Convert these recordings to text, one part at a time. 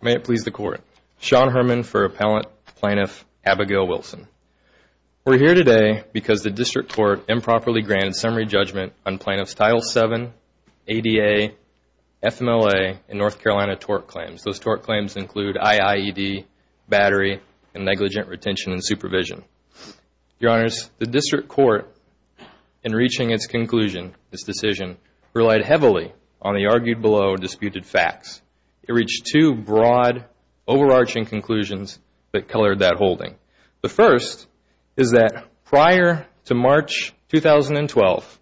May it please the Court. Sean Herman for Appellant Plaintiff Abigail Wilson. We are here today because the District Court improperly granted summary judgment on Plaintiffs Title VII, ADA, FMLA, and North Carolina tort claims. Those tort claims include IIED, battery, and negligent retention and supervision. Your Honors, the District Court, in reaching its conclusion, this decision, relied heavily on the argued below disputed facts. It reached two broad overarching conclusions that colored that holding. The first is that prior to March 2012,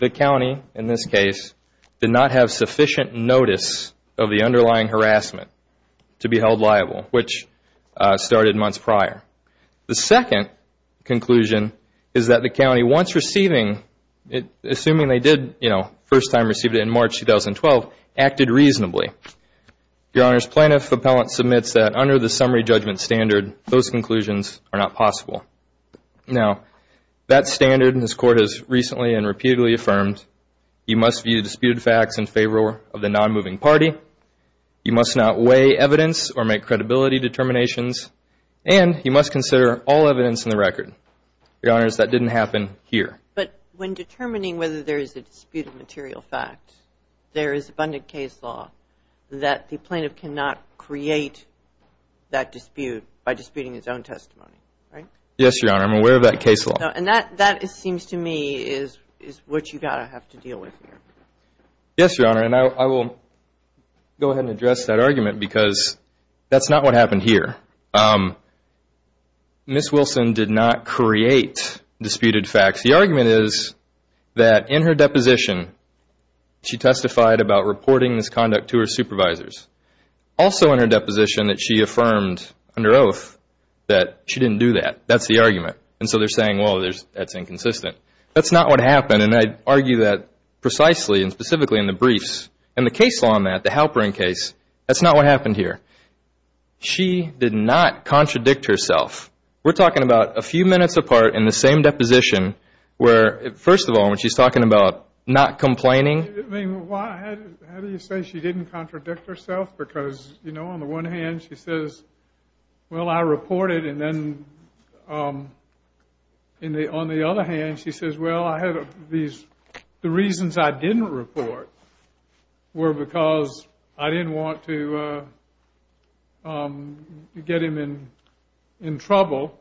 the County, in this case, did not have sufficient notice of the underlying harassment to be held liable, which started months prior. The second conclusion is that the County, once receiving, assuming they did, you know, first time received it in March 2012, acted reasonably. Your Honors, Plaintiff Appellant submits that under the summary judgment standard, those conclusions are not possible. Now, that standard, and this Court has recently and repeatedly affirmed, you must view disputed facts in favor of the non-moving party. You must not weigh evidence or make credibility determinations. And you must consider all here. But when determining whether there is a disputed material fact, there is abundant case law that the Plaintiff cannot create that dispute by disputing its own testimony, right? Yes, Your Honor. I'm aware of that case law. And that, it seems to me, is what you've got to have to deal with here. Yes, Your Honor. And I will go ahead and address that argument because that's not what happened here. Ms. Wilson did not create disputed facts. The argument is that in her deposition, she testified about reporting this conduct to her supervisors. Also in her deposition that she affirmed under oath that she didn't do that. That's the argument. And so they're saying, well, that's inconsistent. That's not what happened. And I argue that precisely and specifically in the briefs. And the case law on that, the Halperin case, that's not what happened here. She did not contradict herself. We're talking about a few minutes apart in the same deposition where, first of all, when she's talking about not complaining. I mean, why, how do you say she didn't contradict herself? Because, you know, on the one hand, she says, well, I reported. And then on the other hand, she says, well, I had these, the reasons I didn't report were because I didn't want to get him in trouble.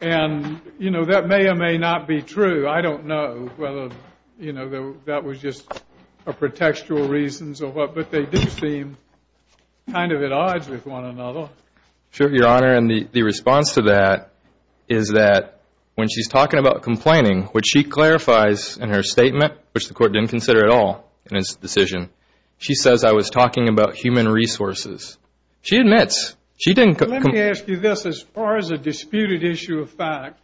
And, you know, that may or may not be true. I don't know whether, you know, that was just a pretextual reasons or what. But they do seem kind of at odds with one another. Sure, Your Honor. And the response to that is that when she's talking about complaining, which she clarifies in her statement, which the court didn't consider at all in its decision, she says, I was talking about human resources. She admits, she didn't. Let me ask you this. As far as a disputed issue of fact,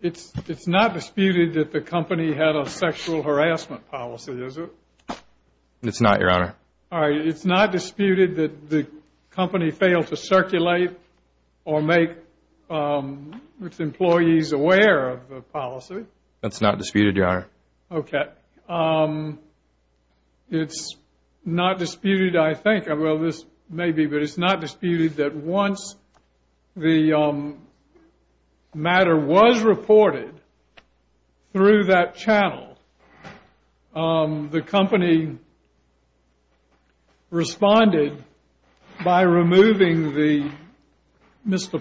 it's not disputed that the company had a sexual harassment policy, is it? It's not, Your Honor. All right. It's not disputed that the company failed to circulate or make its employees aware of the policy? That's not disputed, Your Honor. Okay. It's not disputed, I think. Well, this may be, but it's not disputed that once the matter was reported through that channel, the company responded by removing the Mr.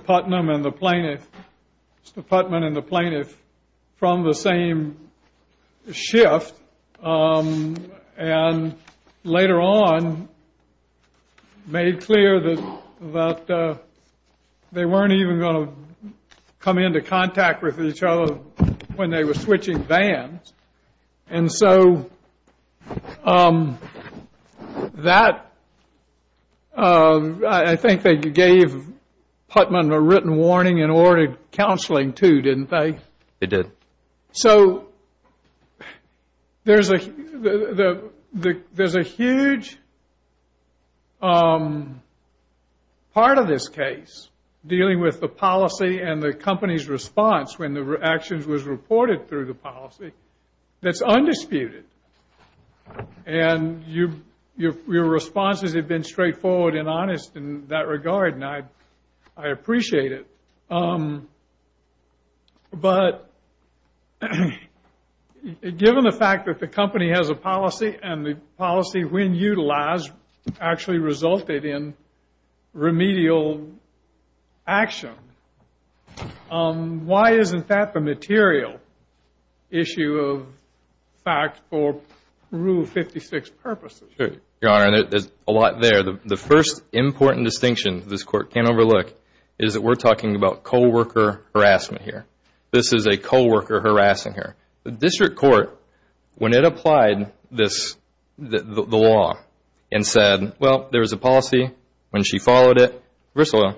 Schiff, and later on made clear that they weren't even going to come into contact with each other when they were switching vans. And so that, I think they gave Putnam a written warning and ordered counseling, too, didn't they? They did. So there's a huge part of this case dealing with the policy and the company's response when the actions was reported through the policy that's undisputed. And your responses have been straightforward and honest in that regard, and I appreciate it. But given the fact that the company has a policy and the policy, when utilized, actually resulted in remedial action, why isn't that the material issue of fact for Rule 56 purposes? Your Honor, there's a lot there. The first important distinction this Court can't overlook is that we're talking about co-worker harassment here. This is a co-worker harassment here. The District Court, when it applied the law and said, well, there was a policy, when she followed it, first of all...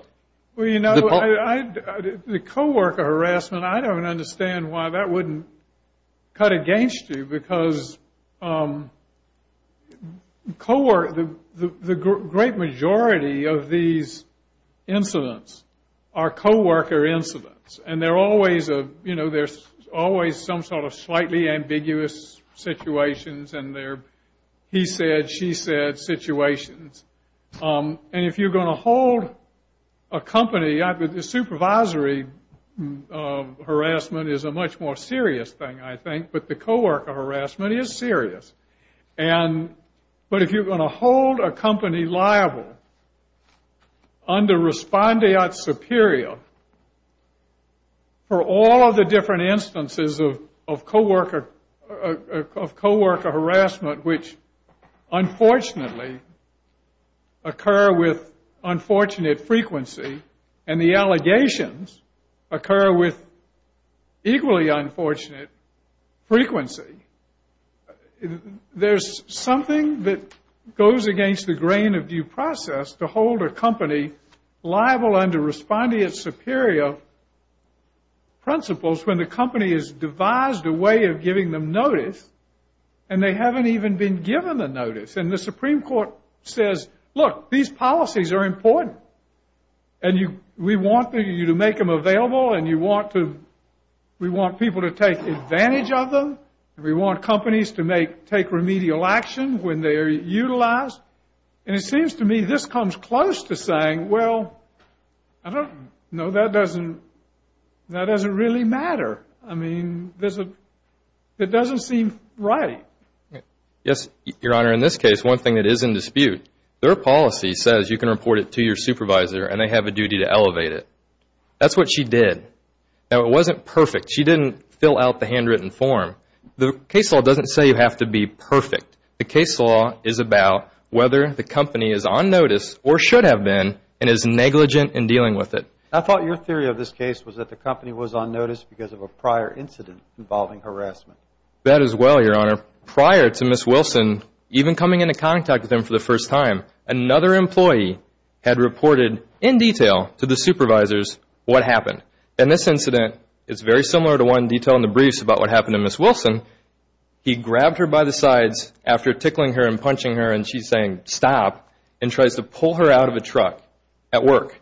Well, you know, the co-worker harassment, I don't understand why that wouldn't cut against you, because the great majority of these incidents are co-worker incidents, and there's always some sort of slightly ambiguous situations, and they're he said, she said situations. And if you're going to hold a company, the supervisory harassment is a much more serious thing, I think, but the co-worker harassment is serious. But if you're going to hold a company liable under respondeat superior for all of the different instances of co-worker harassment, which unfortunately occur with unfortunate frequency, and the allegations occur with frequency, there's something that goes against the grain of due process to hold a company liable under respondeat superior principles when the company has devised a way of giving them notice, and they haven't even been given the notice. And the Supreme Court says, look, these policies are advantage of them, and we want companies to take remedial action when they're utilized. And it seems to me this comes close to saying, well, I don't know, that doesn't really matter. I mean, it doesn't seem right. Yes, Your Honor, in this case, one thing that is in dispute, their policy says you can report it to your supervisor, and they have a duty to elevate it. That's what she did. Now, it wasn't perfect. She didn't fill out the handwritten form. The case law doesn't say you have to be perfect. The case law is about whether the company is on notice or should have been and is negligent in dealing with it. I thought your theory of this case was that the company was on notice because of a prior incident involving harassment. That is well, Your Honor. Prior to Ms. Wilson even coming into contact with them for the first time, another employee had reported in detail to the supervisors what happened. And this incident is very similar to one detailed in the briefs about what happened to Ms. Wilson. He grabbed her by the sides after tickling her and punching her, and she's saying, stop, and tries to pull her out of a truck at work.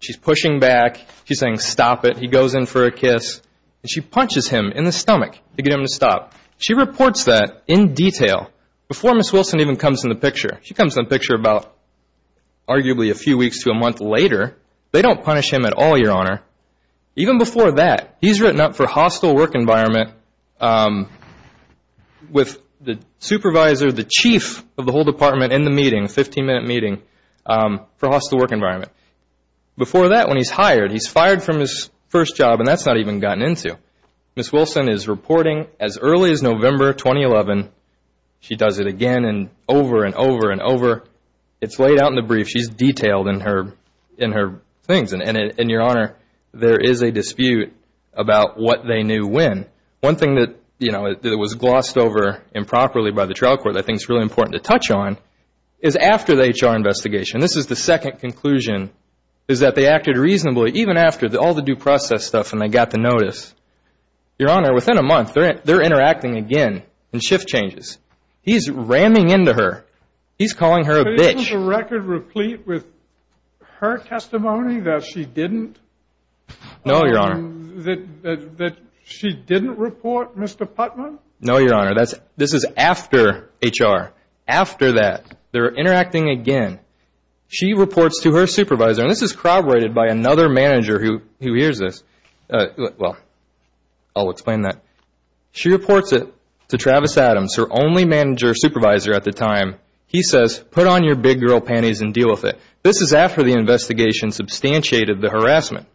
She's pushing back. She's saying, stop it. He goes in for a kiss, and she punches him in the stomach to get him to stop. She reports that in detail before Ms. Wilson even comes in the picture. She comes in the picture about arguably a few weeks to a month later. They don't punish him at all, Your Honor. Even before that, he's written up for hostile work environment with the supervisor, the chief of the whole department in the meeting, 15-minute meeting for hostile work environment. Before that, when he's hired, he's fired from his first job, and that's not even gotten into. Ms. Wilson is reporting as early as November 2011. She does it again and over and over and over. It's laid out in the brief. She's detailed in her things, and, Your Honor, there is a dispute about what they knew when. One thing that was glossed over improperly by the trial court that I think is really important to touch on is after the HR investigation, this is the second conclusion, is that they acted reasonably even after all the due process stuff and they got the notice. Your Honor, within a month, they're interacting again and shift changes. He's ramming into her. He's calling her a bitch. Isn't the record replete with her testimony that she didn't report Mr. Putman? No, Your Honor, this is after HR. After that, they're interacting again. She reports to her supervisor, and this is corroborated by another manager who hears this. Well, I'll explain that. She reports it to Travis Adams, her only manager supervisor at the time. He says, put on your big girl panties and deal with it. This is after the investigation substantiated the harassment.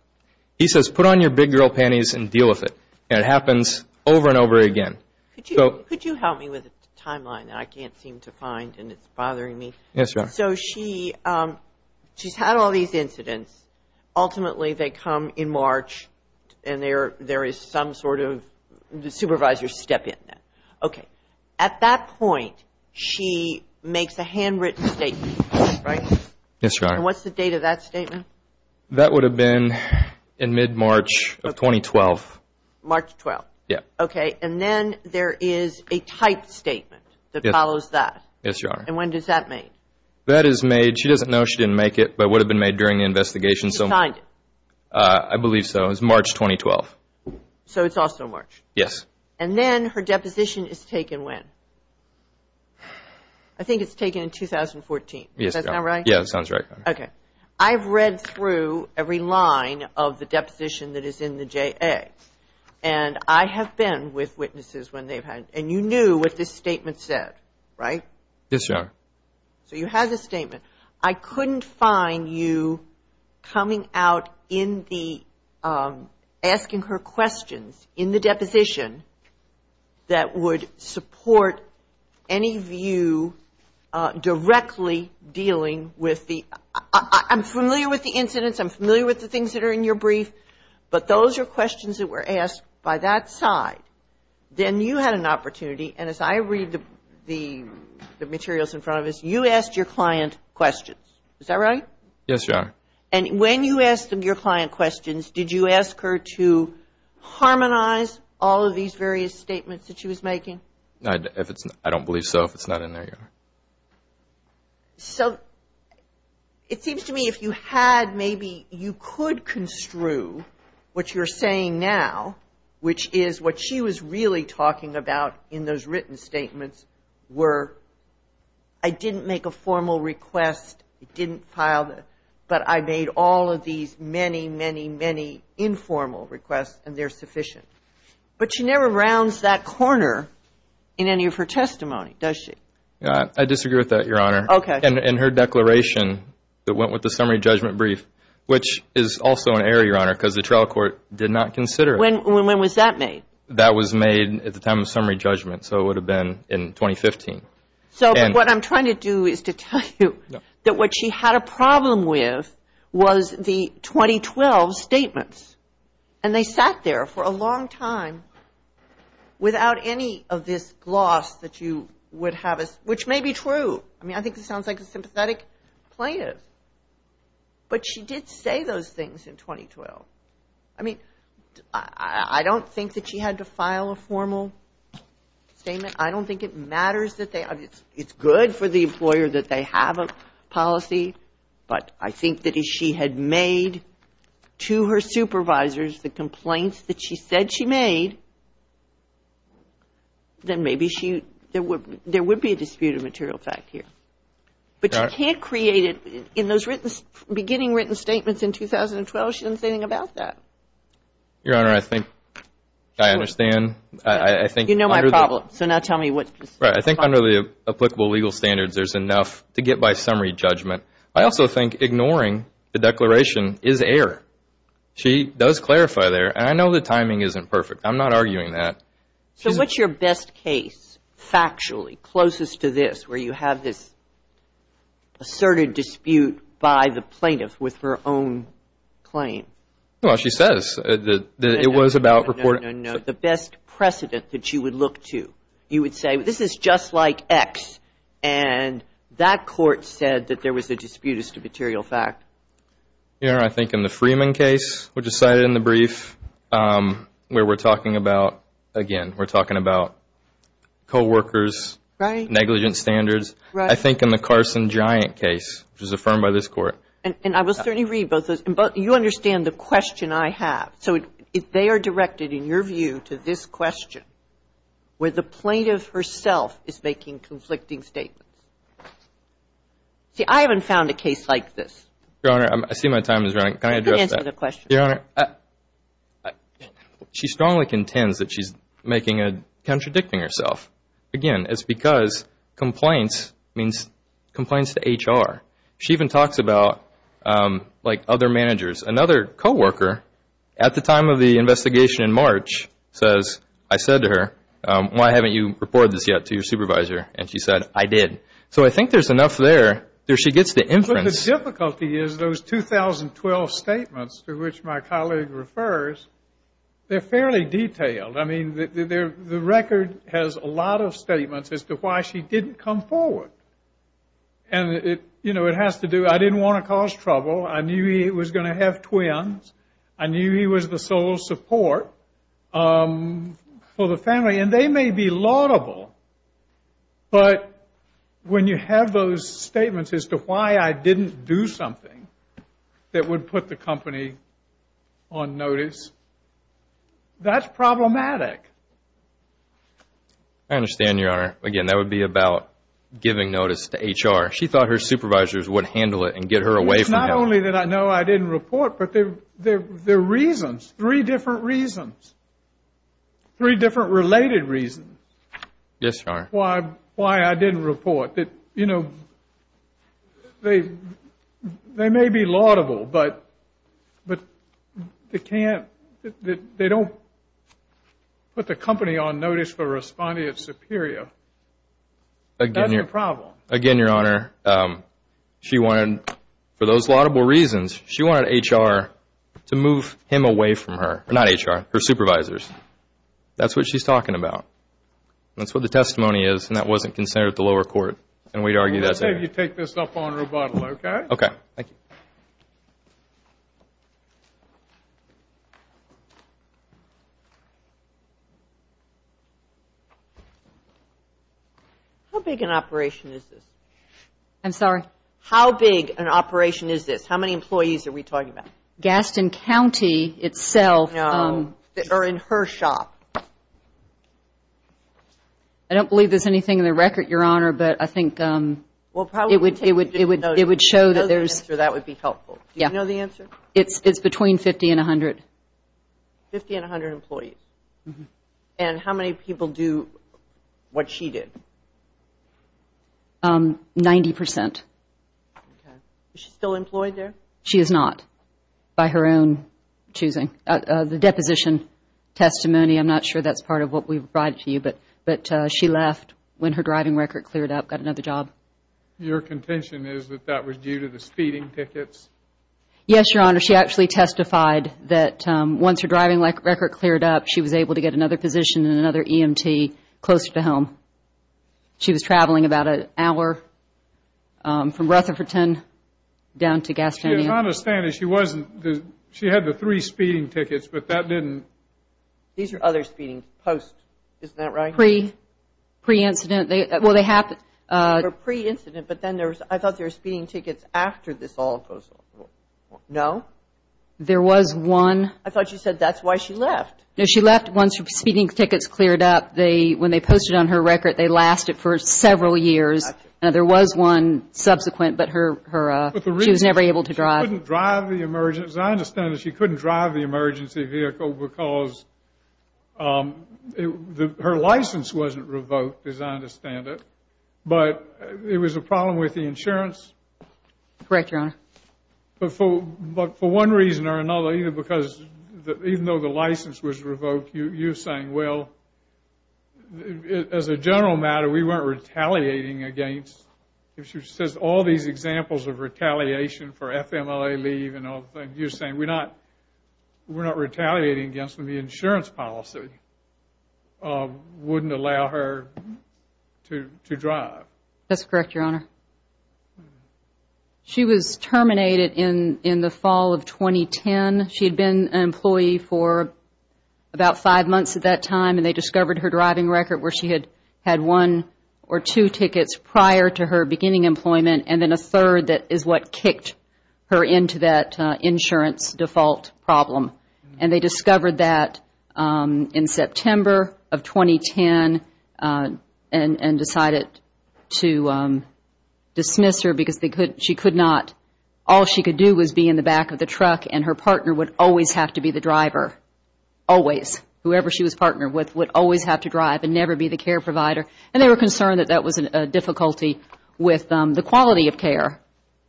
He says, put on your big girl panties and deal with it, and it happens over and over again. Could you help me with a timeline that I can't seem to find and it's bothering me? Yes, Your Honor. So she's had all these incidents. Ultimately, they come in March, and there is some sort of supervisor step in. Okay. At that point, she makes a handwritten statement, right? Yes, Your Honor. And what's the date of that statement? That would have been in mid-March of 2012. March 12th. Yeah. Okay, and then there is a typed statement that follows that. Yes, Your Honor. And when is that made? That is made, she doesn't know she didn't make it, but it would have been made during the investigation. She signed it? I believe so. It was March 2012. So it's also March? Yes. And then her deposition is taken when? I think it's taken in 2014. Yes, Your Honor. Does that sound right? Yeah, that sounds right. Okay. I've read through every line of the deposition that is in the JA, and I have been with witnesses when they've had, and you knew what this statement said, right? Yes, Your Honor. So you had this statement. I couldn't find you coming out in the, asking her questions in the deposition that would support any of you directly dealing with the, I'm familiar with the incidents, I'm familiar with the things that are in your brief, but those are questions that were asked by that side. Then you had an opportunity, and as I read the materials in front of us, you asked your client questions. Is that right? Yes, Your Honor. And when you asked your client questions, did you ask her to harmonize all of these various statements that she was making? I don't believe so. It's not in there, Your Honor. So it seems to me if you had maybe, you could construe what you're saying now, which is what she was really talking about in those written statements were, I didn't make a formal request, didn't file the, but I made all of these many, many, many informal requests, and they're sufficient. But she never rounds that corner in any of her testimony, does she? I disagree with that, Your Honor. Okay. And her declaration that went with the summary judgment brief, which is also an error, Your Honor, because the trial court did not consider it. When was that made? That was made at the time of summary judgment, so it would have been in 2015. So, but what I'm trying to do is to tell you that what she had a problem with was the 2012 statements. And they sat there for a long time without any of this gloss that you would have, which may be true. I mean, I think this sounds like a sympathetic plaintiff, but she did say those things in 2012. I mean, I don't think that she had to file a formal statement. I don't think it matters that they, it's good for the employer that they have a policy, but I think that if she had made to her supervisors the complaints that she said she made, then maybe she, there would be a dispute of material fact here. But you can't create it in those written, beginning written statements in 2012. She didn't say anything about that. Your Honor, I think I understand. You know my problem, so now tell me what's the problem. I think under the applicable legal standards, there's enough to get by summary judgment. I also think ignoring the declaration is error. She does clarify there, and I know the timing isn't perfect. I'm not arguing that. So what's your best case, factually, closest to this, where you have this asserted dispute by the plaintiff with her own claim? Well, she says that it was about reporting. No, no, no, the best precedent that you would look to. You would say this is just like X, and that court said that there was a dispute as to material fact. Your Honor, I think in the Freeman case, which is cited in the brief, where we're talking about, again, we're talking about co-workers, negligent standards. I think in the Carson-Giant case, which was affirmed by this court. And I will certainly read both of those. You understand the question I have. So if they are directed, in your view, to this question, where the plaintiff herself is making conflicting statements. See, I haven't found a case like this. Your Honor, I see my time is running. Can I address that? Answer the question. Your Honor, she strongly contends that she's making a, contradicting herself. Again, it's because complaints means complaints to HR. She even talks about, like, other managers. Another co-worker, at the time of the investigation in March, says, I said to her, why haven't you reported this yet to your supervisor? And she said, I did. So I think there's enough there, there she gets the inference. But the difficulty is those 2012 statements to which my colleague refers, they're fairly detailed. I mean, the record has a lot of statements as to why she didn't come forward. And, you know, it has to do, I didn't want to cause trouble. I knew he was going to have twins. I knew he was the sole support for the family. And they may be laudable. But when you have those statements as to why I didn't do something that would put the company on notice, that's problematic. I understand, Your Honor. Again, that would be about giving notice to HR. Not only did I know I didn't report, but there are reasons. Three different reasons. Three different related reasons. Yes, Your Honor. Why I didn't report. That, you know, they may be laudable, but they can't, they don't put the company on notice for responding at Superior. That's the problem. Again, Your Honor, she wanted, for those laudable reasons, she wanted HR to move him away from her. Not HR, her supervisors. That's what she's talking about. That's what the testimony is. And that wasn't considered at the lower court. And we'd argue that's it. Let's have you take this up on rebuttal, okay? Okay, thank you. How big an operation is this? I'm sorry? How big an operation is this? How many employees are we talking about? Gaston County itself. No, or in her shop. I don't believe there's anything in the record, Your Honor. But I think it would show that there's... Do you know the answer? It's between 50 and 100. 50 and 100 employees. And how many people do what she did? 90 percent. Is she still employed there? She is not, by her own choosing. The deposition testimony, I'm not sure that's part of what we've brought to you, but she left when her driving record cleared up, got another job. Your contention is that that was due to the speeding tickets? Yes, Your Honor. She actually testified that once her driving record cleared up, she was able to get another position in another EMT closer to home. She was traveling about an hour from Rutherfordton down to Gastonia. Your Honor's saying that she wasn't... She had the three speeding tickets, but that didn't... These are other speeding posts. Isn't that right? Pre-incident. Well, they have... They're pre-incident, but then there's... I thought they were speeding tickets after this all goes... No? There was one... I thought you said that's why she left. No, she left once her speeding tickets cleared up. They... When they posted on her record, they lasted for several years. And there was one subsequent, but her... She was never able to drive. She couldn't drive the emergency... As I understand it, she couldn't drive the emergency vehicle because... The... Her license wasn't revoked, as I understand it. But it was a problem with the insurance. Correct, Your Honor. But for one reason or another, either because... Even though the license was revoked, you're saying, well... As a general matter, we weren't retaliating against... If she says all these examples of retaliation for FMLA leave and all things, you're saying we're not... We're not retaliating against the insurance policy. Or wouldn't allow her to drive. That's correct, Your Honor. She was terminated in the fall of 2010. She had been an employee for about five months at that time. And they discovered her driving record where she had had one or two tickets prior to her beginning employment. And then a third that is what kicked her into that insurance default problem. And they discovered that in September of 2010 and decided to dismiss her because they could... She could not... All she could do was be in the back of the truck and her partner would always have to be the driver. Always. Whoever she was partnered with would always have to drive and never be the care provider. And they were concerned that that was a difficulty with the quality of care.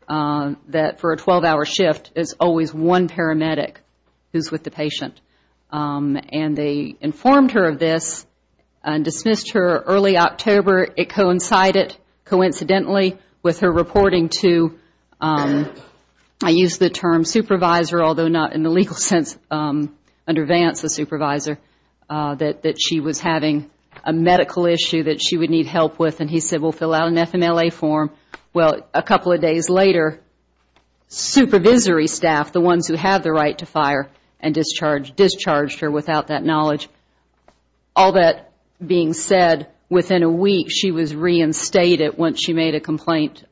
That for a 12-hour shift is always one paramedic who's with the patient. And they informed her of this and dismissed her early October. It coincided, coincidentally, with her reporting to... I use the term supervisor, although not in the legal sense. Under Vance, a supervisor that she was having a medical issue that she would need help with. And he said, we'll fill out an FMLA form. Well, a couple of days later, supervisory staff, the ones who have the right to fire and discharged, discharged her without that knowledge. All that being said, within a week, she was reinstated once she made a complaint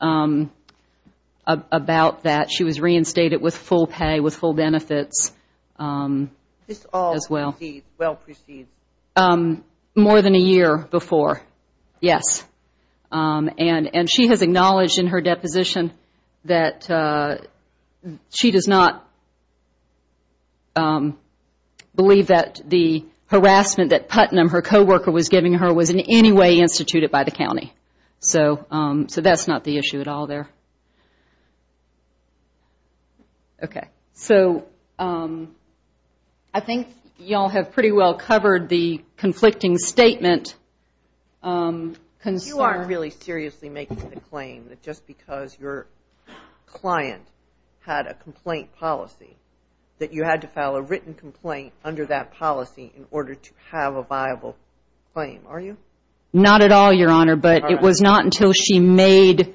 about that. She was reinstated with full pay, with full benefits as well. This all precedes, well precedes. More than a year before, yes. And she has acknowledged in her deposition that she does not believe that the harassment that Putnam, her co-worker, was giving her was in any way instituted by the county. So that's not the issue at all there. Okay. So I think y'all have pretty well covered the conflicting statement concern. You aren't really seriously making the claim that just because your client had a complaint policy, that you had to file a written complaint under that policy in order to have a viable claim, are you? Not at all, Your Honor. But it was not until she made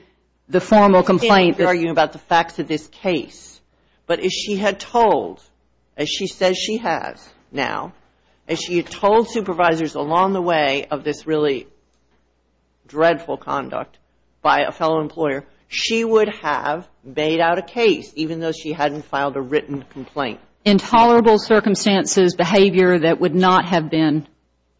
the formal complaint. We can't argue about the facts of this case. But as she had told, as she says she has now, as she had told supervisors along the way of this really dreadful conduct by a fellow employer, she would have made out a case, even though she hadn't filed a written complaint. Intolerable circumstances, behavior that would not have been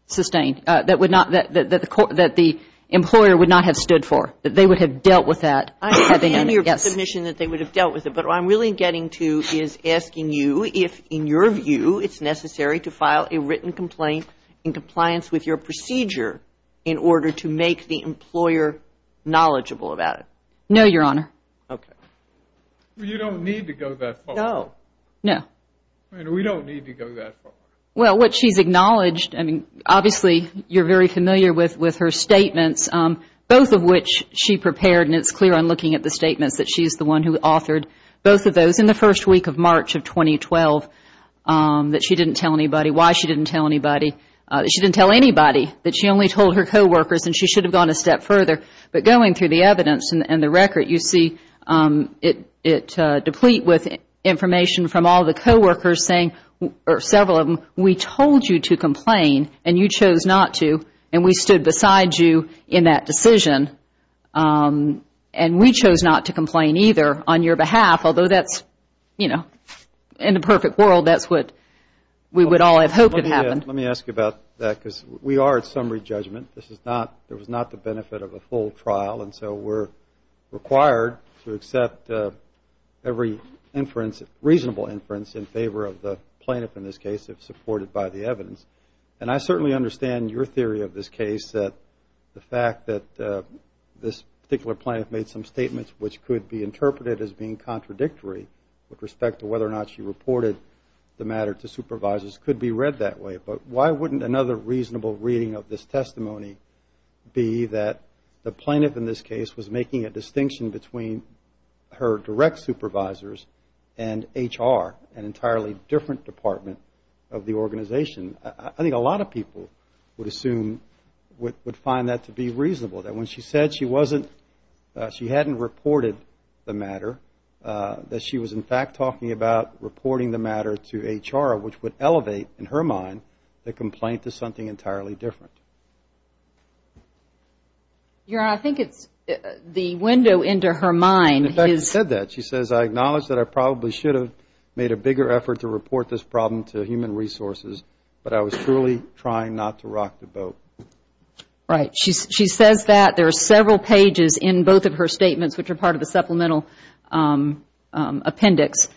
sustained, that would not, that the employer would not have stood for, that they would have dealt with that. I understand your submission that they would have dealt with it. But what I'm really getting to is asking you if in your view it's necessary to file a written complaint in compliance with your procedure in order to make the employer knowledgeable about it. No, Your Honor. Okay. You don't need to go that far. No. No. We don't need to go that far. Well, what she's acknowledged, I mean, obviously you're very familiar with her statements, both of which she prepared. And it's clear on looking at the statements that she's the one who authored both of those in the first week of March of 2012 that she didn't tell anybody, why she didn't tell anybody. She didn't tell anybody, that she only told her co-workers and she should have gone a step further. But going through the evidence and the record, you see it deplete with information from all the co-workers saying, or several of them, we told you to complain and you chose not to and we stood beside you in that decision. And we chose not to complain either on your behalf, although that's, you know, in a perfect world, that's what we would all have hoped had happened. Let me ask you about that, because we are at summary judgment. This is not, there was not the benefit of a full trial. And so we're required to accept every inference, reasonable inference in favor of the plaintiff in this case, if supported by the evidence. And I certainly understand your theory of this case, that the fact that this particular plaintiff made some statements which could be interpreted as being contradictory with respect to whether or not she reported the matter to supervisors could be read that way. But why wouldn't another reasonable reading of this testimony be that the plaintiff in this case was making a distinction between her direct supervisors and HR, an entirely different department of the organization? I think a lot of people would assume, would find that to be reasonable, that when she said she wasn't, she hadn't reported the matter, that she was in fact talking about reporting the matter to HR, which would elevate, in her mind, the complaint to something entirely different. Your Honor, I think it's the window into her mind. In fact, she said that. She says, I acknowledge that I probably should have made a bigger effort to report this problem to human resources, but I was truly trying not to rock the boat. Right. She says that. There are several pages in both of her statements which are part of the supplemental appendix.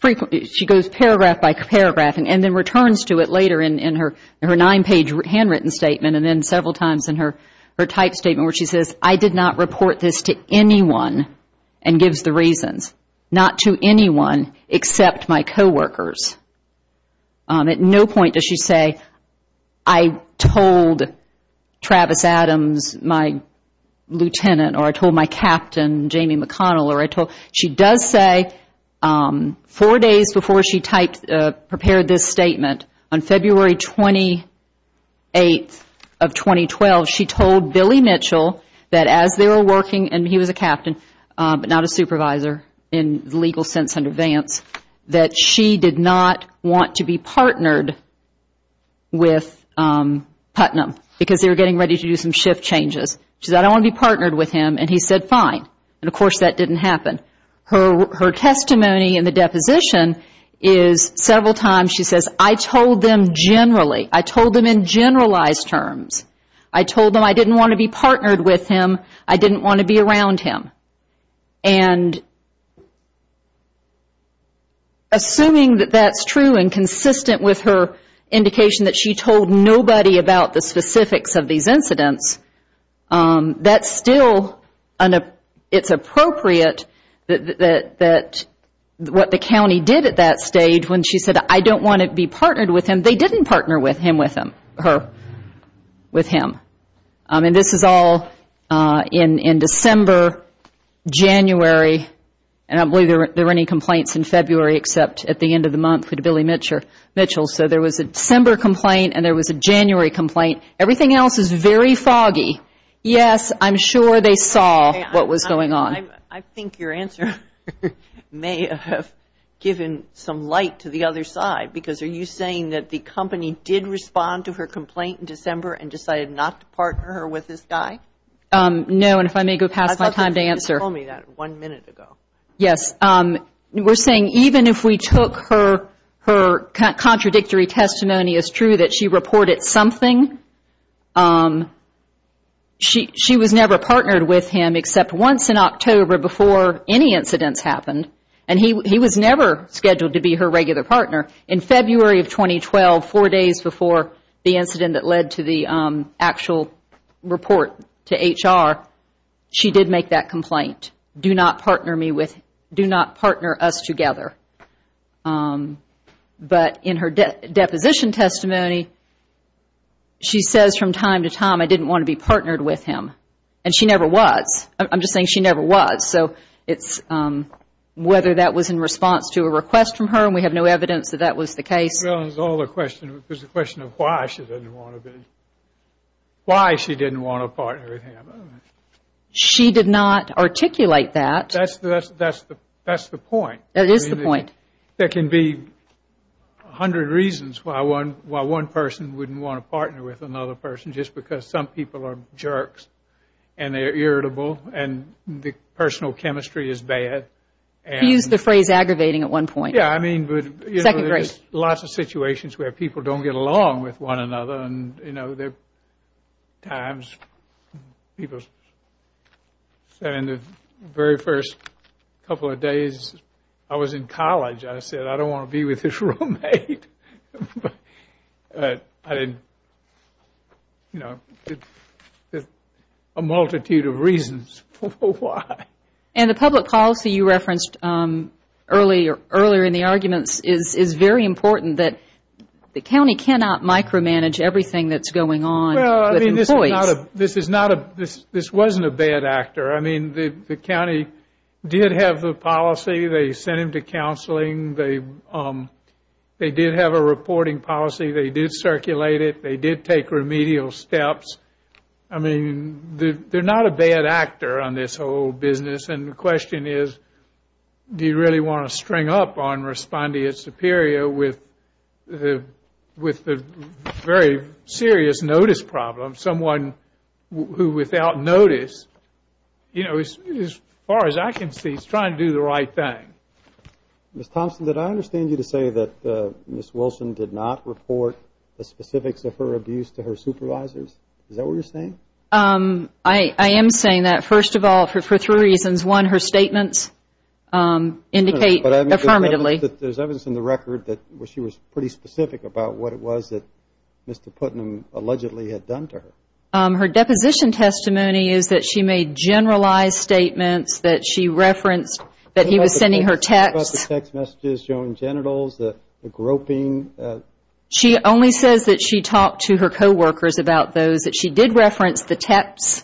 Frequently, she goes paragraph by paragraph and then returns to it later in her nine-page handwritten statement, and then several times in her type statement where she says, I did not report this to anyone and gives the reasons. Not to anyone except my coworkers. At no point does she say, I told Travis Adams, my lieutenant, or I told my captain, Jamie McConnell, she does say four days before she prepared this statement, on February 28th of 2012, she told Billy Mitchell that as they were working, and he was a captain, but not a supervisor in the legal sense under Vance, that she did not want to be partnered with Putnam because they were getting ready to do some shift changes. She said, I don't want to be partnered with him, and he said, fine. Of course, that didn't happen. Her testimony in the deposition is several times, she says, I told them generally. I told them in generalized terms. I told them I didn't want to be partnered with him. I didn't want to be around him. Assuming that that's true and consistent with her indication that she told nobody about the specifics of these incidents, that's still, it's appropriate that what the county did at that stage when she said, I don't want to be partnered with him, they didn't partner with him, her, with him. And this is all in December, January, and I don't believe there were any complaints in February except at the end of the month with Billy Mitchell. So there was a December complaint and there was a January complaint. Everything else is very foggy. Yes, I'm sure they saw what was going on. I think your answer may have given some light to the other side because are you saying that the company did respond to her complaint in December and decided not to partner her with this guy? No, and if I may go past my time to answer. You told me that one minute ago. Yes, we're saying even if we took her contradictory testimony, it's true that she reported something. She was never partnered with him except once in October before any incidents happened, and he was never scheduled to be her regular partner. In February of 2012, four days before the incident that led to the actual report to HR, she did make that complaint. Do not partner me with, do not partner us together. But in her deposition testimony, she says from time to time I didn't want to be partnered with him. And she never was. I'm just saying she never was. So it's whether that was in response to a request from her, and we have no evidence that that was the case. Well, there's a question of why she didn't want to partner with him. She did not articulate that. That's the point. That is the point. There can be a hundred reasons why one person wouldn't want to partner with another person, just because some people are jerks, and they're irritable, and the personal chemistry is bad. You used the phrase aggravating at one point. Yeah, I mean, there's lots of situations where people don't get along with one another, and there are times people that in the very first couple of days I was in college, I said, I don't want to be with this roommate. I didn't, you know, a multitude of reasons for why. And the public policy you referenced earlier in the arguments is very important that the county cannot micromanage everything that's going on with employees. This is not a, this wasn't a bad actor. I mean, the county did have the policy. They sent him to counseling. They did have a reporting policy. They did circulate it. They did take remedial steps. I mean, they're not a bad actor on this whole business. And the question is, do you really want to string up on respondeat superior with the very serious notice problem? Someone who without notice, you know, as far as I can see, is trying to do the right thing. Ms. Thompson, did I understand you to say that Ms. Wilson did not report the specifics of her abuse to her supervisors? Is that what you're saying? I am saying that, first of all, for three reasons. One, her statements indicate affirmatively. There's evidence in the record that she was pretty specific about what it was that Mr. Putnam allegedly had done to her. Her deposition testimony is that she made generalized statements, that she referenced that he was sending her texts. What about the text messages showing genitals, the groping? She only says that she talked to her co-workers about those, that she did reference the texts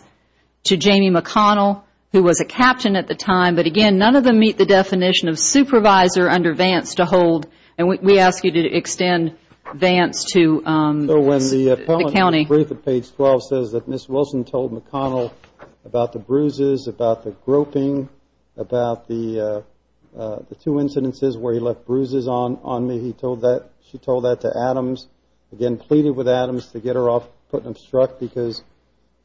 to Jamie McConnell, who was a captain at the time. But again, none of them meet the definition of supervisor under Vance to hold. And we ask you to extend Vance to the county. Page 12 says that Ms. Wilson told McConnell about the bruises, about the groping, about the two incidences where he left bruises on me. She told that to Adams, again, pleaded with Adams to get her off Putnam's truck because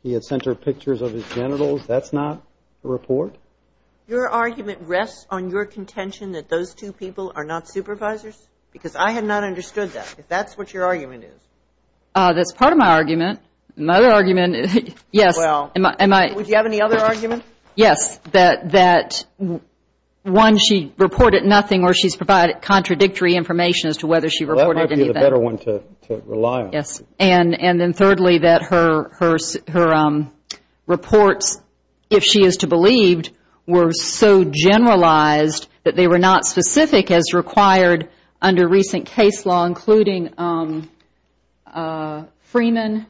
he had sent her pictures of his genitals. That's not the report? Your argument rests on your contention that those two people are not supervisors? Because I have not understood that, if that's what your argument is. That's part of my argument. My other argument, yes. Well, would you have any other argument? Yes, that one, she reported nothing, or she's provided contradictory information as to whether she reported anything. That might be the better one to rely on. Yes, and then thirdly, that her reports, if she is to believe, were so generalized that they were not specific as required under recent case law, including Freeman,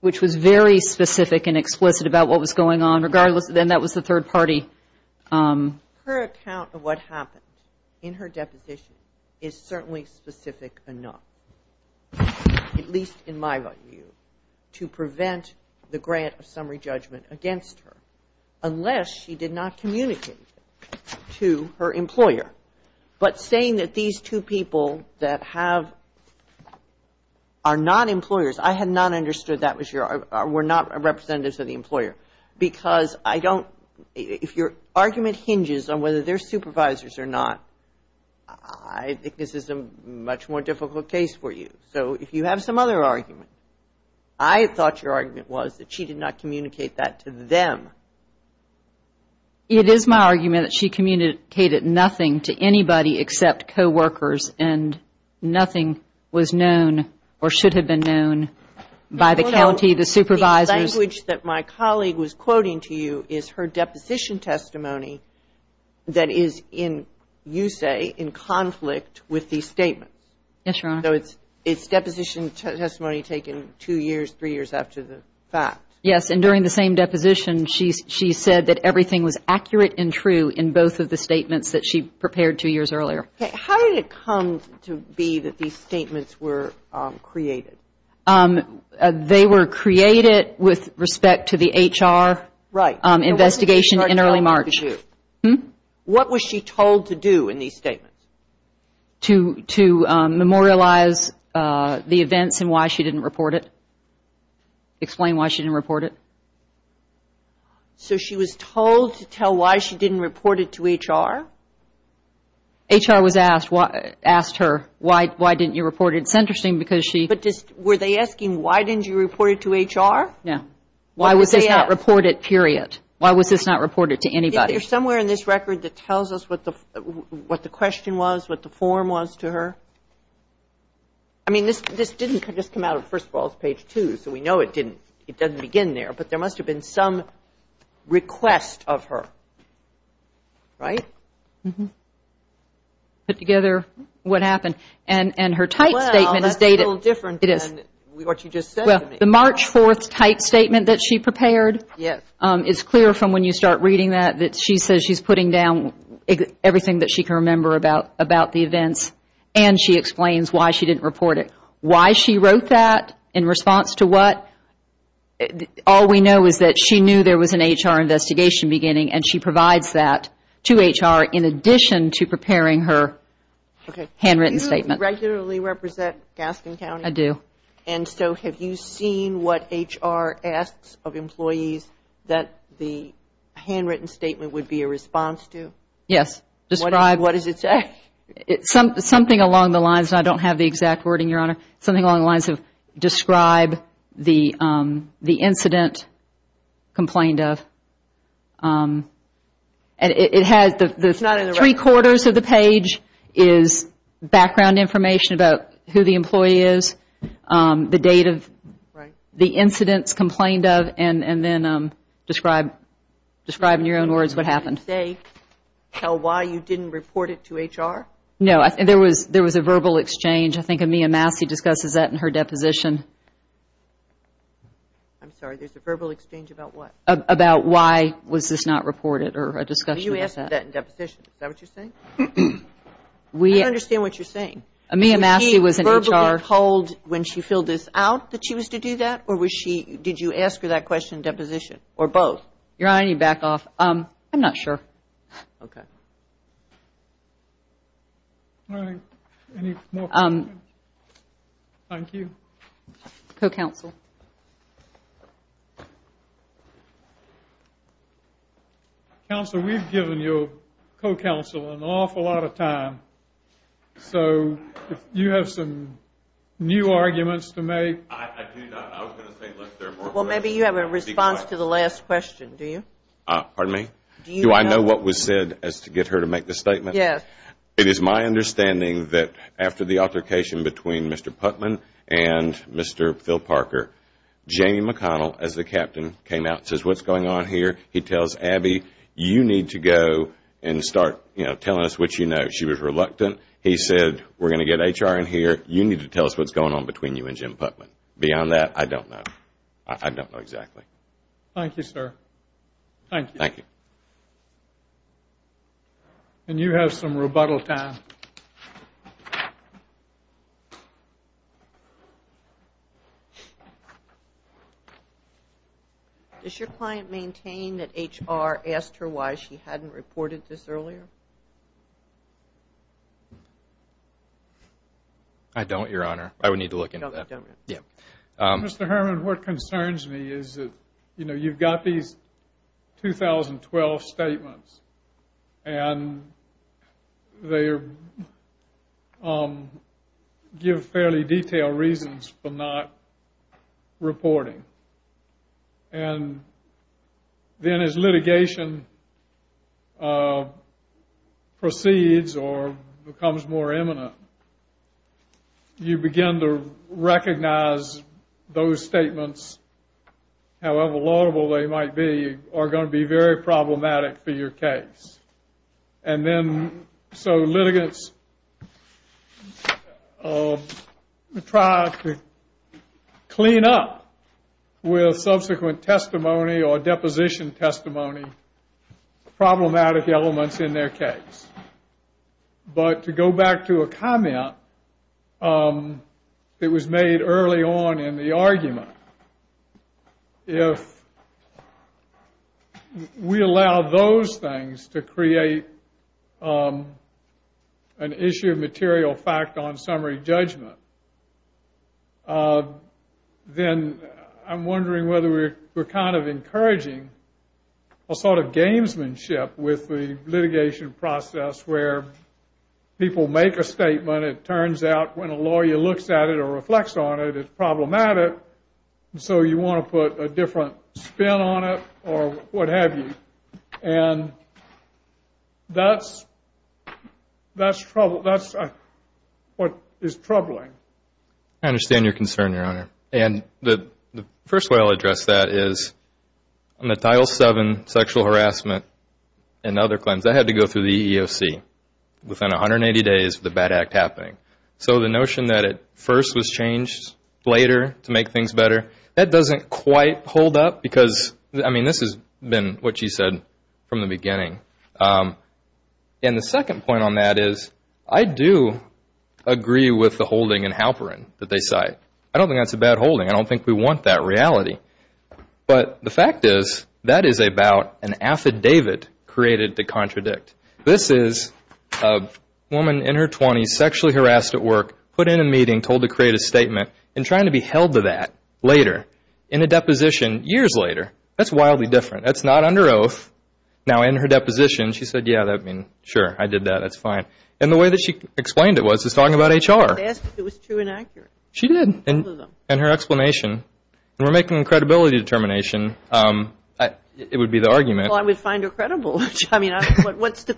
which was very specific and explicit about what was going on, regardless, then that was the third party. Her account of what happened in her deposition is certainly specific enough, at least in my view, to prevent the grant of summary judgment against her, unless she did not communicate to her employer. But saying that these two people that have, are not employers, I had not understood that was your, were not representatives of the employer. Because I don't, if your argument hinges on whether they're supervisors or not, I think this is a much more difficult case for you. So if you have some other argument, I thought your argument was that she did not communicate that to them. It is my argument that she communicated nothing to anybody except co-workers, and nothing was known or should have been known by the county, the supervisors. The language that my colleague was quoting to you is her deposition testimony that is in, you say, in conflict with these statements. Yes, Your Honor. So it's, it's deposition testimony taken two years, three years after the fact. Yes, and during the same deposition, she said that everything was accurate and true in both of the statements that she prepared two years earlier. How did it come to be that these statements were created? They were created with respect to the HR investigation in early March. What was she told to do in these statements? To memorialize the events and why she didn't report it? Explain why she didn't report it. So she was told to tell why she didn't report it to HR? HR was asked, asked her, why, why didn't you report it? It's interesting because she... But just, were they asking, why didn't you report it to HR? No. Why was this not reported, period? Why was this not reported to anybody? There's somewhere in this record that tells us what the, what the question was, what the form was to her. I mean, this, this didn't just come out of, first of all, it's page two, so we know it didn't, it doesn't begin there, but there must have been some request of her. Right? Put together what happened. And, and her type statement is dated. Well, that's a little different than what you just said to me. The March 4th type statement that she prepared. Yes. It's clear from when you start reading that, that she says she's putting down everything that she can remember about, about the events, and she explains why she didn't report it. Why she wrote that, in response to what? All we know is that she knew there was an HR investigation beginning, and she provides that to HR in addition to preparing her handwritten statement. Do you regularly represent Gaskin County? I do. And so, have you seen what HR asks of employees that the handwritten statement would be a response to? Yes. Describe. What does it say? Something along the lines, I don't have the exact wording, Your Honor. Something along the lines of describe the, the incident complained of, and it has the, the three quarters of the page is background information about who the employee is, the date of the incidents complained of, and, and then describe, describe in your own words what happened. Did it say how, why you didn't report it to HR? No. There was, there was a verbal exchange. I think Amia Massey discusses that in her deposition. I'm sorry. There's a verbal exchange about what? About why was this not reported, or a discussion. You asked that in deposition. Is that what you're saying? We. I don't understand what you're saying. Amia Massey was in HR. Was she verbally told when she filled this out that she was to do that, or was she, did you ask her that question in deposition, or both? Your Honor, I need to back off. I'm not sure. Okay. All right. Any more questions? Thank you. Co-counsel. Counsel, we've given your co-counsel an awful lot of time. So, if you have some new arguments to make. I, I do not. I was going to say let's therefore. Well, maybe you have a response to the last question, do you? Pardon me? Do I know what was said as to get her to make the statement? Yes. It is my understanding that after the altercation between Mr. Putman and Mr. Phil Parker, Jamie McConnell, as the captain, came out and says, what's going on here? He tells Abby, you need to go and start, you know, telling us what you know. She was reluctant. He said, we're going to get HR in here. You need to tell us what's going on between you and Jim Putman. Beyond that, I don't know. I don't know exactly. Thank you, sir. Thank you. Thank you. And you have some rebuttal time. Does your client maintain that HR asked her why she hadn't reported this earlier? I don't, Your Honor. Yeah. Mr. Herman, what concerns me is that, you know, you've got these 2012 statements, and they give fairly detailed reasons for not reporting. And then as litigation proceeds or becomes more imminent, you begin to recognize those statements, however laudable they might be, are going to be very problematic for your case. And then, so litigants try to clean up with subsequent testimony or deposition testimony, problematic elements in their case. But to go back to a comment that was made early on in the argument, if we allow those things to create an issue of material fact on summary judgment, then I'm wondering whether we're kind of encouraging a sort of gamesmanship with the litigation process where people make a statement, it turns out when a lawyer looks at it or reflects on it, it's problematic. So you want to put a different spin on it or what have you. And that's what is troubling. I understand your concern, Your Honor. And the first way I'll address that is on the Title VII sexual harassment and other claims, I had to go through the EEOC. Within 180 days of the bad act happening. So the notion that it first was changed later to make things better, that doesn't quite hold up because, I mean, this has been what you said from the beginning. And the second point on that is I do agree with the holding in Halperin that they cite. I don't think that's a bad holding. I don't think we want that reality. But the fact is that is about an affidavit created to contradict. This is a woman in her 20s, sexually harassed at work, put in a meeting, told to create a statement, and trying to be held to that later in a deposition years later. That's wildly different. That's not under oath. Now, in her deposition, she said, yeah, I mean, sure, I did that. That's fine. And the way that she explained it was just talking about HR. I asked if it was true and accurate. She did, in her explanation. And we're making a credibility determination. It would be the argument. Well, I would find her credible. I mean, what's the...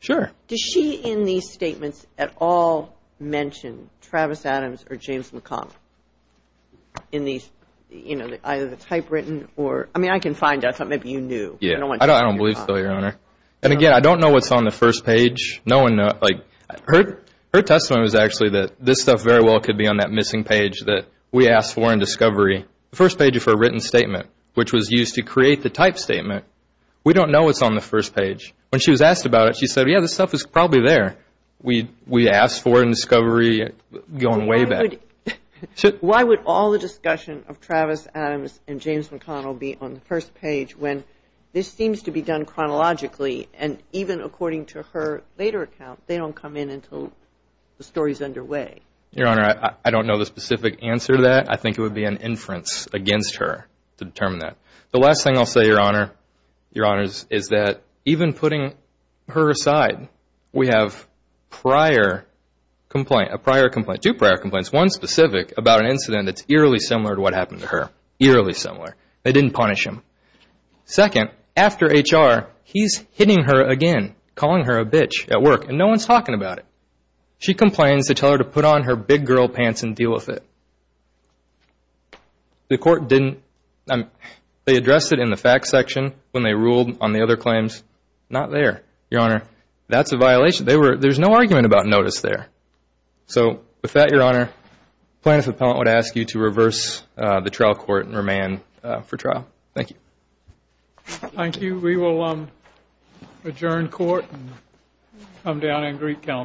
Sure. Does she, in these statements, at all mention Travis Adams or James McConnell? In these, you know, either the typewritten or... I mean, I can find out something that you knew. Yeah, I don't believe so, Your Honor. And again, I don't know what's on the first page. Like, her testimony was actually that this stuff very well could be on that missing page that we asked for in discovery, the first page of her written statement, which was used to create the type statement. We don't know what's on the first page. When she was asked about it, she said, yeah, this stuff is probably there. We asked for it in discovery, going way back. Why would all the discussion of Travis Adams and James McConnell be on the first page when this seems to be done chronologically? And even according to her later account, they don't come in until the story's underway. Your Honor, I don't know the specific answer to that. I think it would be an inference against her to determine that. The last thing I'll say, Your Honor, Your Honors, is that even putting her aside, we have prior complaint, a prior complaint, two prior complaints, one specific about an incident that's eerily similar to what happened to her. Eerily similar. They didn't punish him. Second, after HR, he's hitting her again, calling her a bitch at work, and no one's talking about it. She complains to tell her to put on her big girl pants and deal with it. The court didn't. They addressed it in the facts section when they ruled on the other claims. Not there, Your Honor. That's a violation. They were, there's no argument about notice there. So with that, Your Honor, plaintiff's appellant would ask you to reverse the trial court and remand for trial. Thank you. Thank you. We will adjourn court and come down and greet counsel.